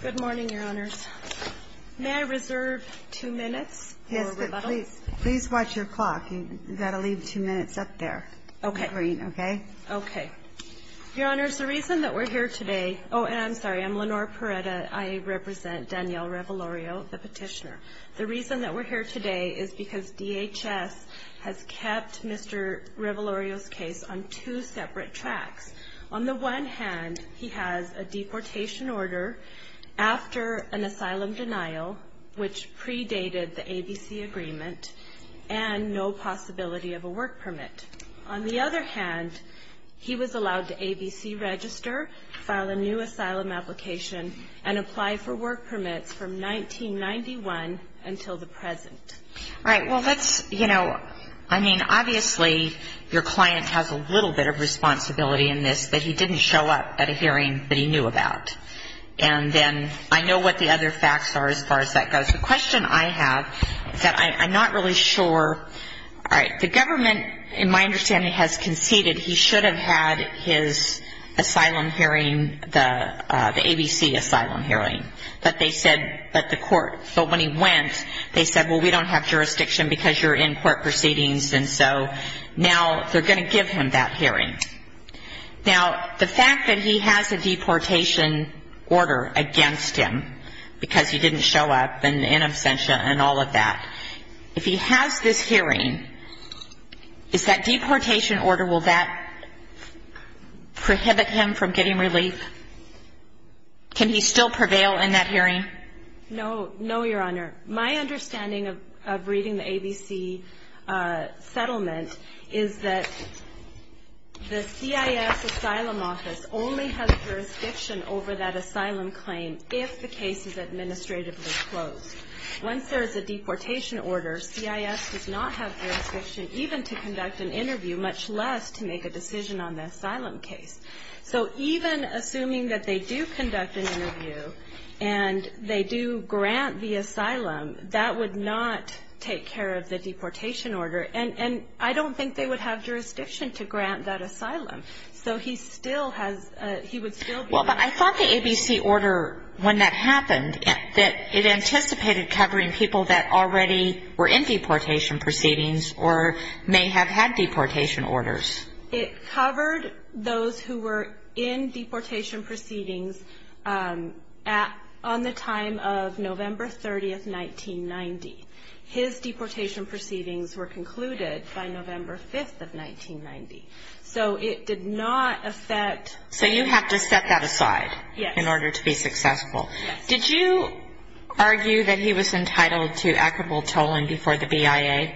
Good morning, Your Honors. May I reserve two minutes for rebuttals? Yes, but please watch your clock. You've got to leave two minutes up there in green, okay? Okay. Your Honors, the reason that we're here today – oh, and I'm sorry, I'm Lenore Perretta. I represent Danielle Revolorio, the petitioner. The reason that we're here today is because DHS has kept Mr. Revolorio's case on two separate tracks. On the one hand, he has a deportation order after an asylum denial, which predated the ABC agreement, and no possibility of a work permit. On the other hand, he was allowed to ABC register, file a new asylum application, and apply for work permits from 1991 until the present. All right, well, let's – you know, I mean, obviously your client has a little bit of responsibility in this that he didn't show up at a hearing that he knew about. And then I know what the other facts are as far as that goes. The question I have is that I'm not really sure – all right, the government, in my understanding, has conceded he should have had his asylum hearing, the ABC asylum hearing, that they said that the court – they said, well, we don't have jurisdiction because you're in court proceedings, and so now they're going to give him that hearing. Now, the fact that he has a deportation order against him because he didn't show up and in absentia and all of that, if he has this hearing, is that deportation order – will that prohibit him from getting relief? Can he still prevail in that hearing? No, no, Your Honor. My understanding of reading the ABC settlement is that the CIS asylum office only has jurisdiction over that asylum claim if the case is administratively closed. Once there is a deportation order, CIS does not have jurisdiction even to conduct an interview, much less to make a decision on the asylum case. So even assuming that they do conduct an interview and they do grant the asylum, that would not take care of the deportation order. And I don't think they would have jurisdiction to grant that asylum. So he still has – he would still be – Well, but I thought the ABC order, when that happened, that it anticipated covering people that already were in deportation proceedings or may have had deportation orders. It covered those who were in deportation proceedings on the time of November 30th, 1990. His deportation proceedings were concluded by November 5th of 1990. So it did not affect – So you have to set that aside in order to be successful. Did you argue that he was entitled to equitable tolling before the BIA?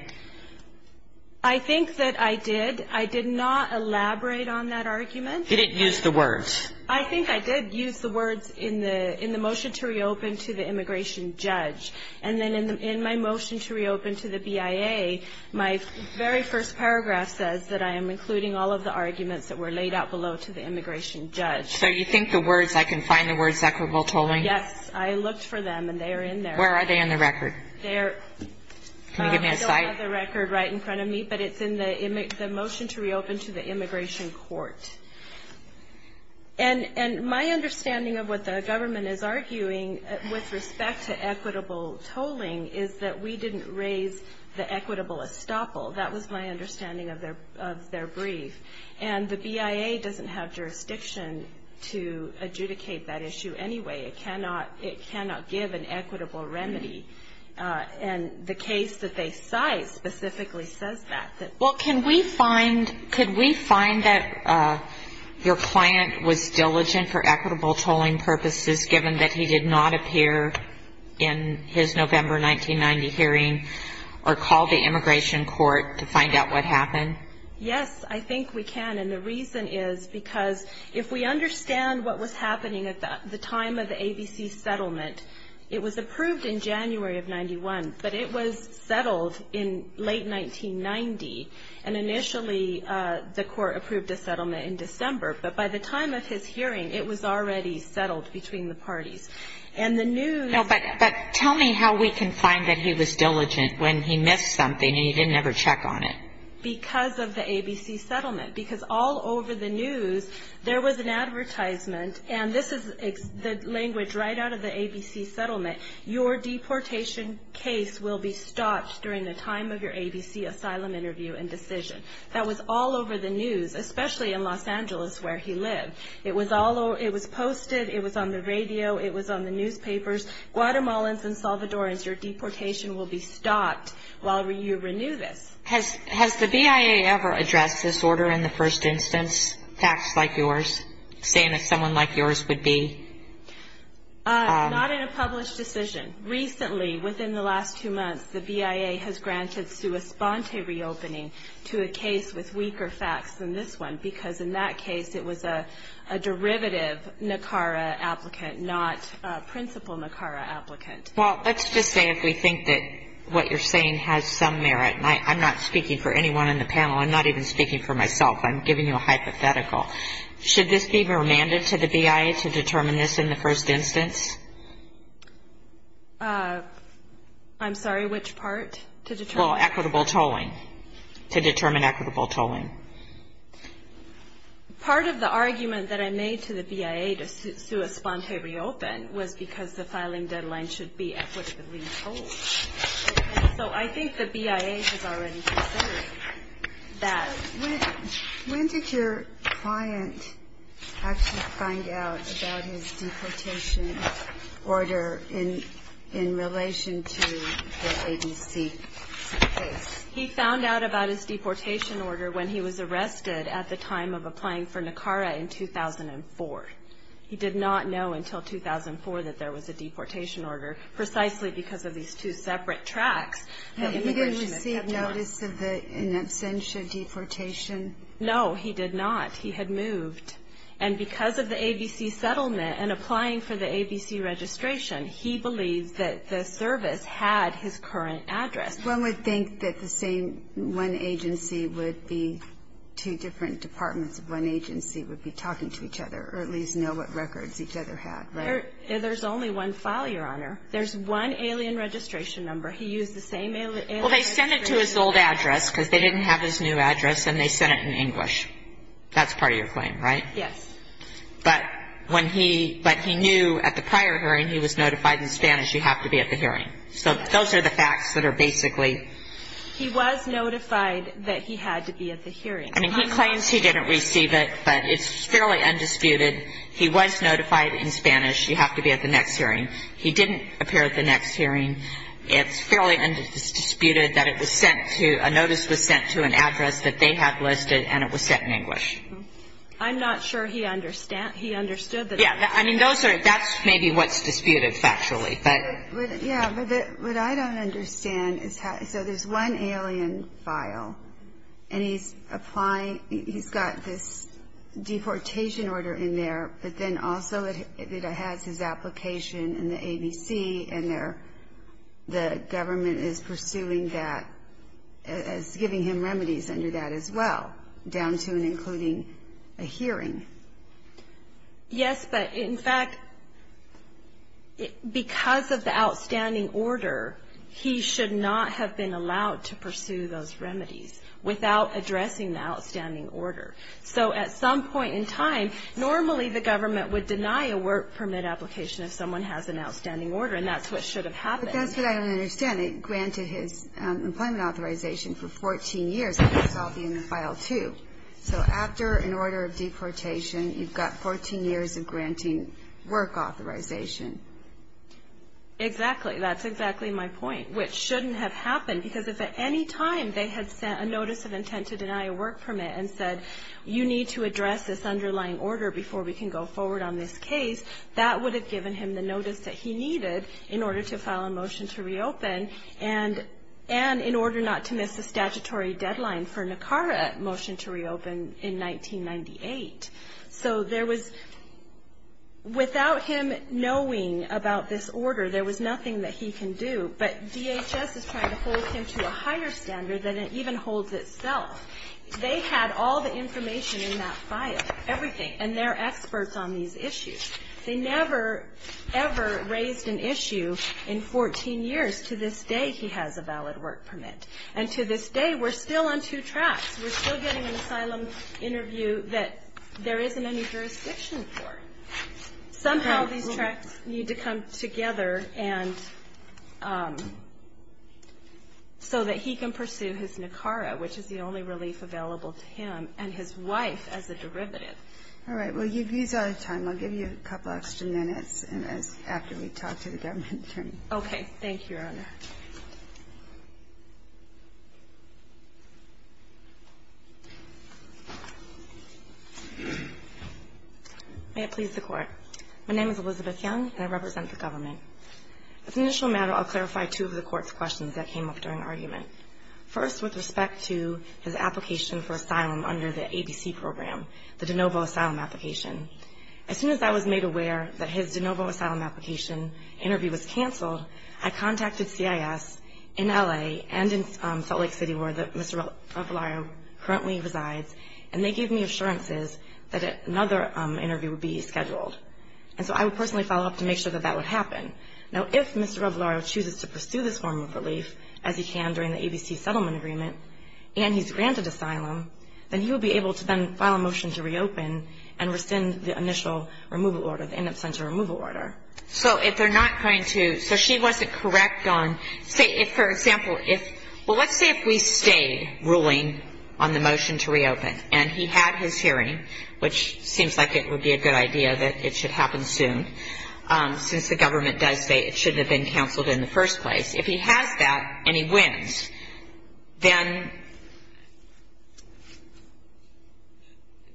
I think that I did. I did not elaborate on that argument. You didn't use the words. I think I did use the words in the motion to reopen to the immigration judge. And then in my motion to reopen to the BIA, my very first paragraph says that I am including all of the arguments that were laid out below to the immigration judge. So you think the words – I can find the words equitable tolling? Yes. I looked for them, and they are in there. Where are they in the record? They are – Can you give me a cite? I still have the record right in front of me, but it's in the motion to reopen to the immigration court. And my understanding of what the government is arguing with respect to equitable tolling is that we didn't raise the equitable estoppel. That was my understanding of their brief. And the BIA doesn't have jurisdiction to adjudicate that issue anyway. It cannot give an equitable remedy. And the case that they cite specifically says that. Well, can we find – could we find that your client was diligent for equitable tolling purposes given that he did not appear in his November 1990 hearing or call the immigration court to find out what happened? Yes, I think we can. And the reason is because if we understand what was happening at the time of the ABC settlement, it was approved in January of 91, but it was settled in late 1990, and initially the court approved a settlement in December. But by the time of his hearing, it was already settled between the parties. And the news – No, but tell me how we can find that he was diligent when he missed something and he didn't ever check on it. Because of the ABC settlement. Because all over the news, there was an advertisement, and this is the language right out of the ABC settlement, your deportation case will be stopped during the time of your ABC asylum interview and decision. That was all over the news, especially in Los Angeles where he lived. It was posted, it was on the radio, it was on the newspapers. Guatemalans and Salvadorans, your deportation will be stopped while you renew this. Has the BIA ever addressed this order in the first instance, facts like yours, saying that someone like yours would be? Not in a published decision. Recently, within the last two months, the BIA has granted sua sponte reopening to a case with weaker facts than this one, because in that case it was a derivative NACARA applicant, not principal NACARA applicant. Well, let's just say if we think that what you're saying has some merit, and I'm not speaking for anyone on the panel, I'm not even speaking for myself, I'm giving you a hypothetical. Should this be remanded to the BIA to determine this in the first instance? I'm sorry, which part? Well, equitable tolling, to determine equitable tolling. Part of the argument that I made to the BIA to sua sponte reopen was because the filing deadline should be equitably tolled. So I think the BIA has already said that. When did your client actually find out about his deportation order in relation to the ABC case? He found out about his deportation order when he was arrested at the time of applying for NACARA in 2004. He did not know until 2004 that there was a deportation order, precisely because of these two separate tracks. Had he received notice of an absentia deportation? No, he did not. He had moved. And because of the ABC settlement and applying for the ABC registration, he believed that the service had his current address. One would think that the same one agency would be two different departments of one agency would be talking to each other, or at least know what records each other had, right? There's only one file, Your Honor. There's one alien registration number. He used the same alien registration number. Well, they sent it to his old address because they didn't have his new address, and they sent it in English. That's part of your claim, right? Yes. But he knew at the prior hearing he was notified in Spanish, you have to be at the hearing. So those are the facts that are basically. He was notified that he had to be at the hearing. I mean, he claims he didn't receive it, but it's fairly undisputed. He was notified in Spanish, you have to be at the next hearing. He didn't appear at the next hearing. It's fairly undisputed that it was sent to, a notice was sent to an address that they had listed, and it was sent in English. I'm not sure he understood that. Yeah, I mean, those are, that's maybe what's disputed factually. Yeah, but what I don't understand is how, so there's one alien file, and he's applying, he's got this deportation order in there, but then also it has his application in the ABC, and the government is pursuing that as giving him remedies under that as well, down to and including a hearing. Yes, but in fact, because of the outstanding order, he should not have been allowed to pursue those remedies without addressing the outstanding order. So at some point in time, normally the government would deny a work permit application if someone has an outstanding order, and that's what should have happened. But that's what I don't understand. It granted his employment authorization for 14 years, and that's all in the file too. So after an order of deportation, you've got 14 years of granting work authorization. Exactly. That's exactly my point, which shouldn't have happened, because if at any time they had sent a notice of intent to deny a work permit and said you need to address this underlying order before we can go forward on this case, that would have given him the notice that he needed in order to file a motion to reopen and in order not to miss the statutory deadline for NACARA motion to reopen in 1998. So there was, without him knowing about this order, there was nothing that he can do. But DHS is trying to hold him to a higher standard than it even holds itself. They had all the information in that file, everything, and they're experts on these issues. They never, ever raised an issue in 14 years. To this day, he has a valid work permit. And to this day, we're still on two tracks. We're still getting an asylum interview that there isn't any jurisdiction for. Somehow these tracks need to come together so that he can pursue his NACARA, which is the only relief available to him and his wife as a derivative. All right. Well, you've used all your time. I'll give you a couple extra minutes after we talk to the government attorney. Okay. Thank you, Your Honor. May it please the Court. My name is Elizabeth Young, and I represent the government. As an initial matter, I'll clarify two of the Court's questions that came up during argument. First, with respect to his application for asylum under the ABC program, the de novo asylum application. As soon as I was made aware that his de novo asylum application interview was canceled, I contacted CIS in L.A. and in Salt Lake City, where Mr. Revolario currently resides, and they gave me assurances that another interview would be scheduled. And so I would personally follow up to make sure that that would happen. Now, if Mr. Revolario chooses to pursue this form of relief, as he can during the ABC settlement agreement, and he's granted asylum, then he will be able to then file a motion to reopen and rescind the initial removal order, the in absentia removal order. So if they're not going to, so she wasn't correct on, say, if, for example, if, well, let's say if we stayed ruling on the motion to reopen, and he had his hearing, which seems like it would be a good idea that it should happen soon, since the government does say it shouldn't have been canceled in the first place. If he has that and he wins, then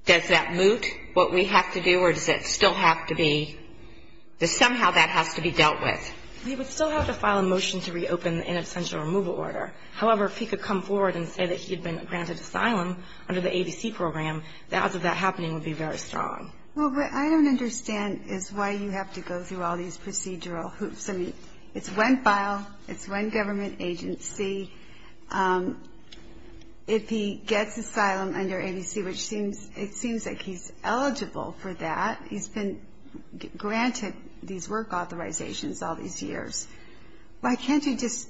does that moot what we have to do, or does it still have to be, somehow that has to be dealt with? He would still have to file a motion to reopen the in absentia removal order. However, if he could come forward and say that he had been granted asylum under the ABC program, the odds of that happening would be very strong. Well, what I don't understand is why you have to go through all these procedural hoops. I mean, it's one file, it's one government agency. If he gets asylum under ABC, which it seems like he's eligible for that, he's been granted these work authorizations all these years, why can't you just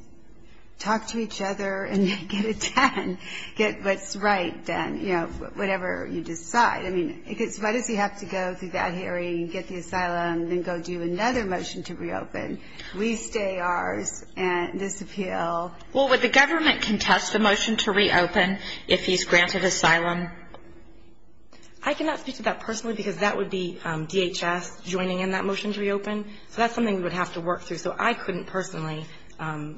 talk to each other and get it done, get what's right done, you know, whatever you decide? I mean, why does he have to go through that hearing and get the asylum and then go do another motion to reopen? We stay ours and disappeal. Well, would the government contest the motion to reopen if he's granted asylum? I cannot speak to that personally because that would be DHS joining in that motion to reopen. So that's something we would have to work through. So I couldn't personally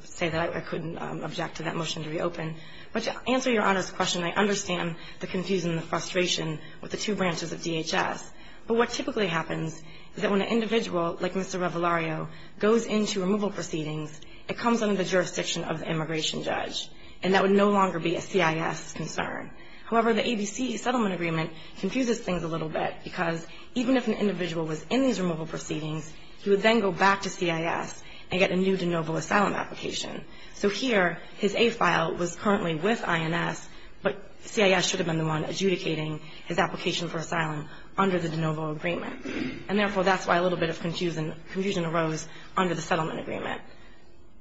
say that I couldn't object to that motion to reopen. But to answer Your Honor's question, I understand the confusion and the frustration with the two branches of DHS. But what typically happens is that when an individual like Mr. Revolario goes into removal proceedings, it comes under the jurisdiction of the immigration judge, and that would no longer be a CIS concern. However, the ABC settlement agreement confuses things a little bit because even if an individual was in these removal proceedings, he would then go back to CIS and get a new de novo asylum application. So here his A file was currently with INS, but CIS should have been the one adjudicating his application for asylum under the de novo agreement. And therefore, that's why a little bit of confusion arose under the settlement agreement.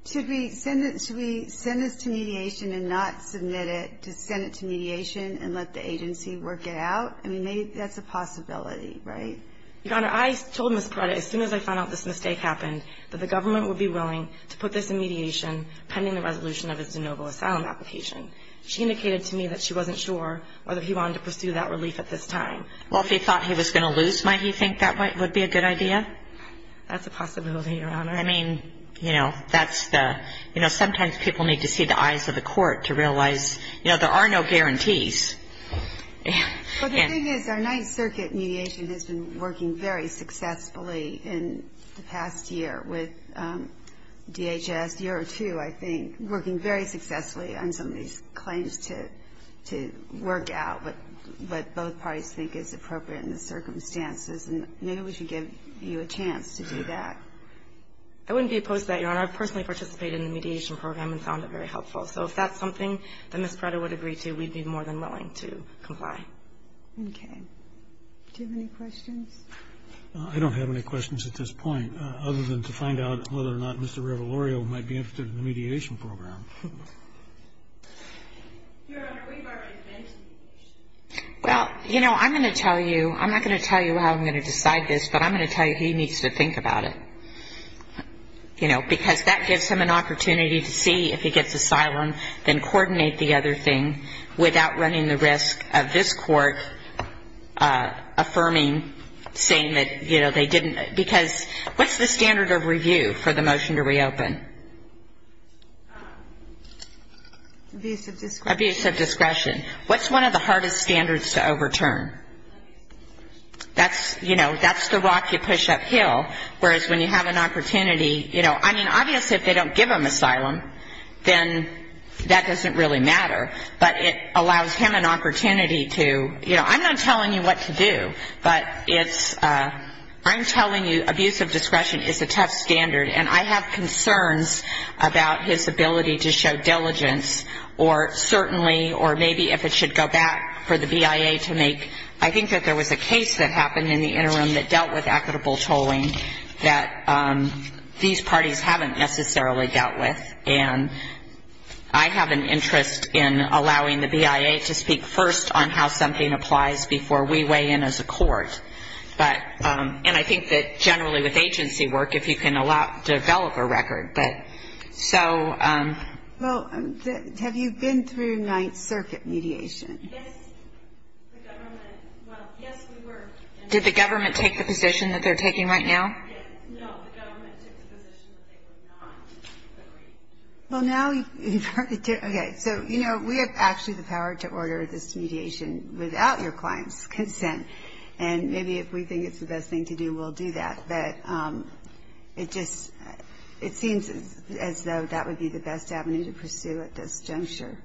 Should we send this to mediation and not submit it to send it to mediation and let the agency work it out? I mean, maybe that's a possibility, right? Your Honor, I told Ms. Paretta as soon as I found out this mistake happened, that the government would be willing to put this in mediation pending the resolution of his de novo asylum application. She indicated to me that she wasn't sure whether he wanted to pursue that relief at this time. Well, if he thought he was going to lose, might he think that would be a good idea? That's a possibility, Your Honor. I mean, you know, that's the – you know, sometimes people need to see the eyes of the court to realize, you know, there are no guarantees. Well, the thing is, our Ninth Circuit mediation has been working very successfully in the past year with DHS, a year or two, I think, working very successfully on some of these claims to work out what both parties think is appropriate in the circumstances. And maybe we should give you a chance to do that. I wouldn't be opposed to that, Your Honor. I've personally participated in the mediation program and found it very helpful. So if that's something that Ms. Prada would agree to, we'd be more than willing to comply. Okay. Do you have any questions? I don't have any questions at this point, other than to find out whether or not Mr. Revolorio might be interested in the mediation program. Your Honor, we've already mentioned mediation. Well, you know, I'm going to tell you – I'm not going to tell you how I'm going to decide this, but I'm going to tell you he needs to think about it, you know, because that gives him an opportunity to see if he gets asylum, then coordinate the other thing without running the risk of this court affirming, saying that, you know, they didn't – because what's the standard of review for the motion to reopen? Abuse of discretion. Abuse of discretion. What's one of the hardest standards to overturn? That's, you know, that's the rock you push uphill, whereas when you have an opportunity, you know, I mean, obviously if they don't give him asylum, then that doesn't really matter, but it allows him an opportunity to – you know, I'm not telling you what to do, but it's – I'm telling you abuse of discretion is a tough standard, and I have concerns about his ability to show diligence or certainly – or maybe if it should go back for the BIA to make – I think that there was a case that happened in the interim that dealt with equitable tolling that these parties haven't necessarily dealt with, and I have an interest in allowing the BIA to speak first on how something applies before we weigh in as a court. But – and I think that generally with agency work, if you can develop a record. But so – Well, have you been through Ninth Circuit mediation? Yes, the government – well, yes, we were. Did the government take the position that they're taking right now? No, the government took the position that they were not. Well, now – okay, so, you know, we have actually the power to order this mediation without your client's consent, and maybe if we think it's the best thing to do, we'll do that. But it just – it seems as though that would be the best avenue to pursue at this juncture.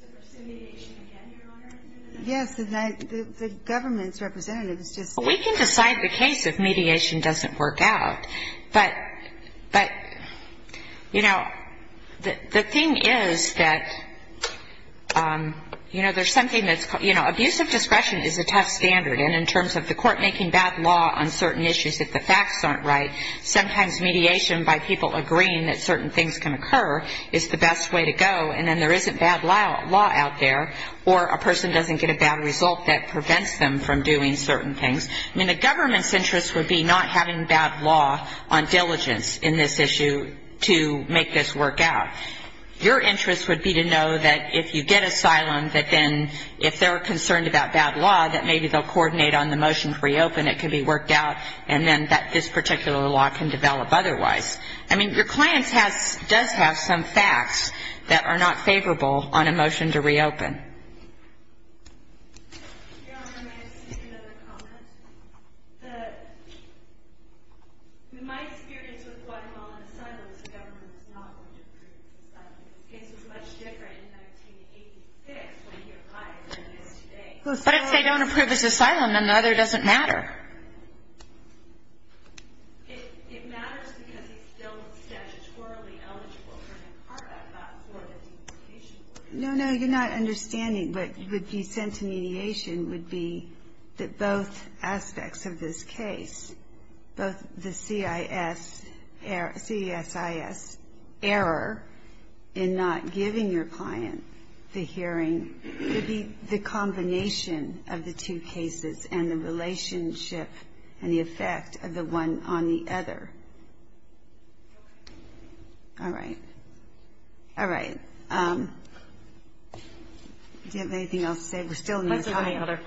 So pursue mediation again, Your Honor? Yes, the government's representatives just said that. Well, we can decide the case if mediation doesn't work out. But, you know, the thing is that, you know, there's something that's – you know, abusive discretion is a tough standard, and in terms of the court making bad law on certain issues if the facts aren't right, sometimes mediation by people agreeing that certain things can occur is the best way to go, and then there isn't bad law out there, or a person doesn't get a bad result that prevents them from doing certain things. I mean, the government's interest would be not having bad law on diligence in this issue to make this work out. Your interest would be to know that if you get asylum, that then if they're concerned about bad law, that maybe they'll coordinate on the motion to reopen, it can be worked out, and then that this particular law can develop otherwise. I mean, your client has – does have some facts that are not favorable on a motion to reopen. Your Honor, may I just make another comment? The – in my experience with Guatemalan asylums, the government is not going to approve the asylum. The case was much different in 1986 when he applied than it is today. But if they don't approve his asylum, then the other doesn't matter. It matters because he's still statutorily eligible for the CARB Act, not for the deportation order. No, no, you're not understanding. What would be sent to mediation would be that both aspects of this case, both the CIS error in not giving your client the hearing would be the combination of the two cases and the relationship and the effect of the one on the other. All right. All right. Do you have anything else to say? We're still in the time.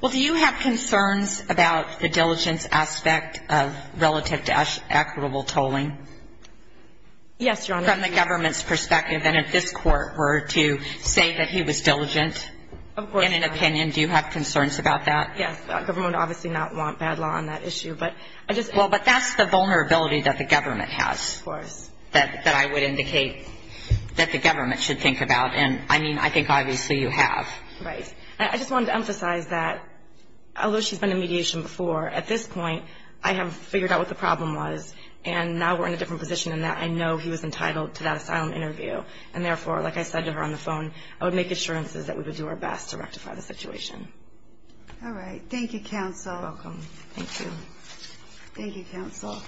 Well, do you have concerns about the diligence aspect of relative to equitable tolling? Yes, Your Honor. From the government's perspective, and if this Court were to say that he was diligent in an opinion, do you have concerns about that? Yes. The government would obviously not want bad law on that issue. Well, but that's the vulnerability that the government has. Of course. That I would indicate that the government should think about. And, I mean, I think obviously you have. Right. I just wanted to emphasize that although she's been in mediation before, at this point I have figured out what the problem was, and now we're in a different position in that I know he was entitled to that asylum interview. And, therefore, like I said to her on the phone, I would make assurances that we would do our best to rectify the situation. All right. Thank you, counsel. You're welcome. Thank you. Thank you, counsel.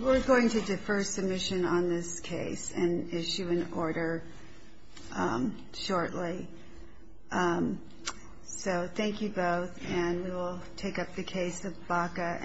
We're going to defer submission on this case and issue an order shortly. So thank you both, and we will take up the case of Baca v. Holder.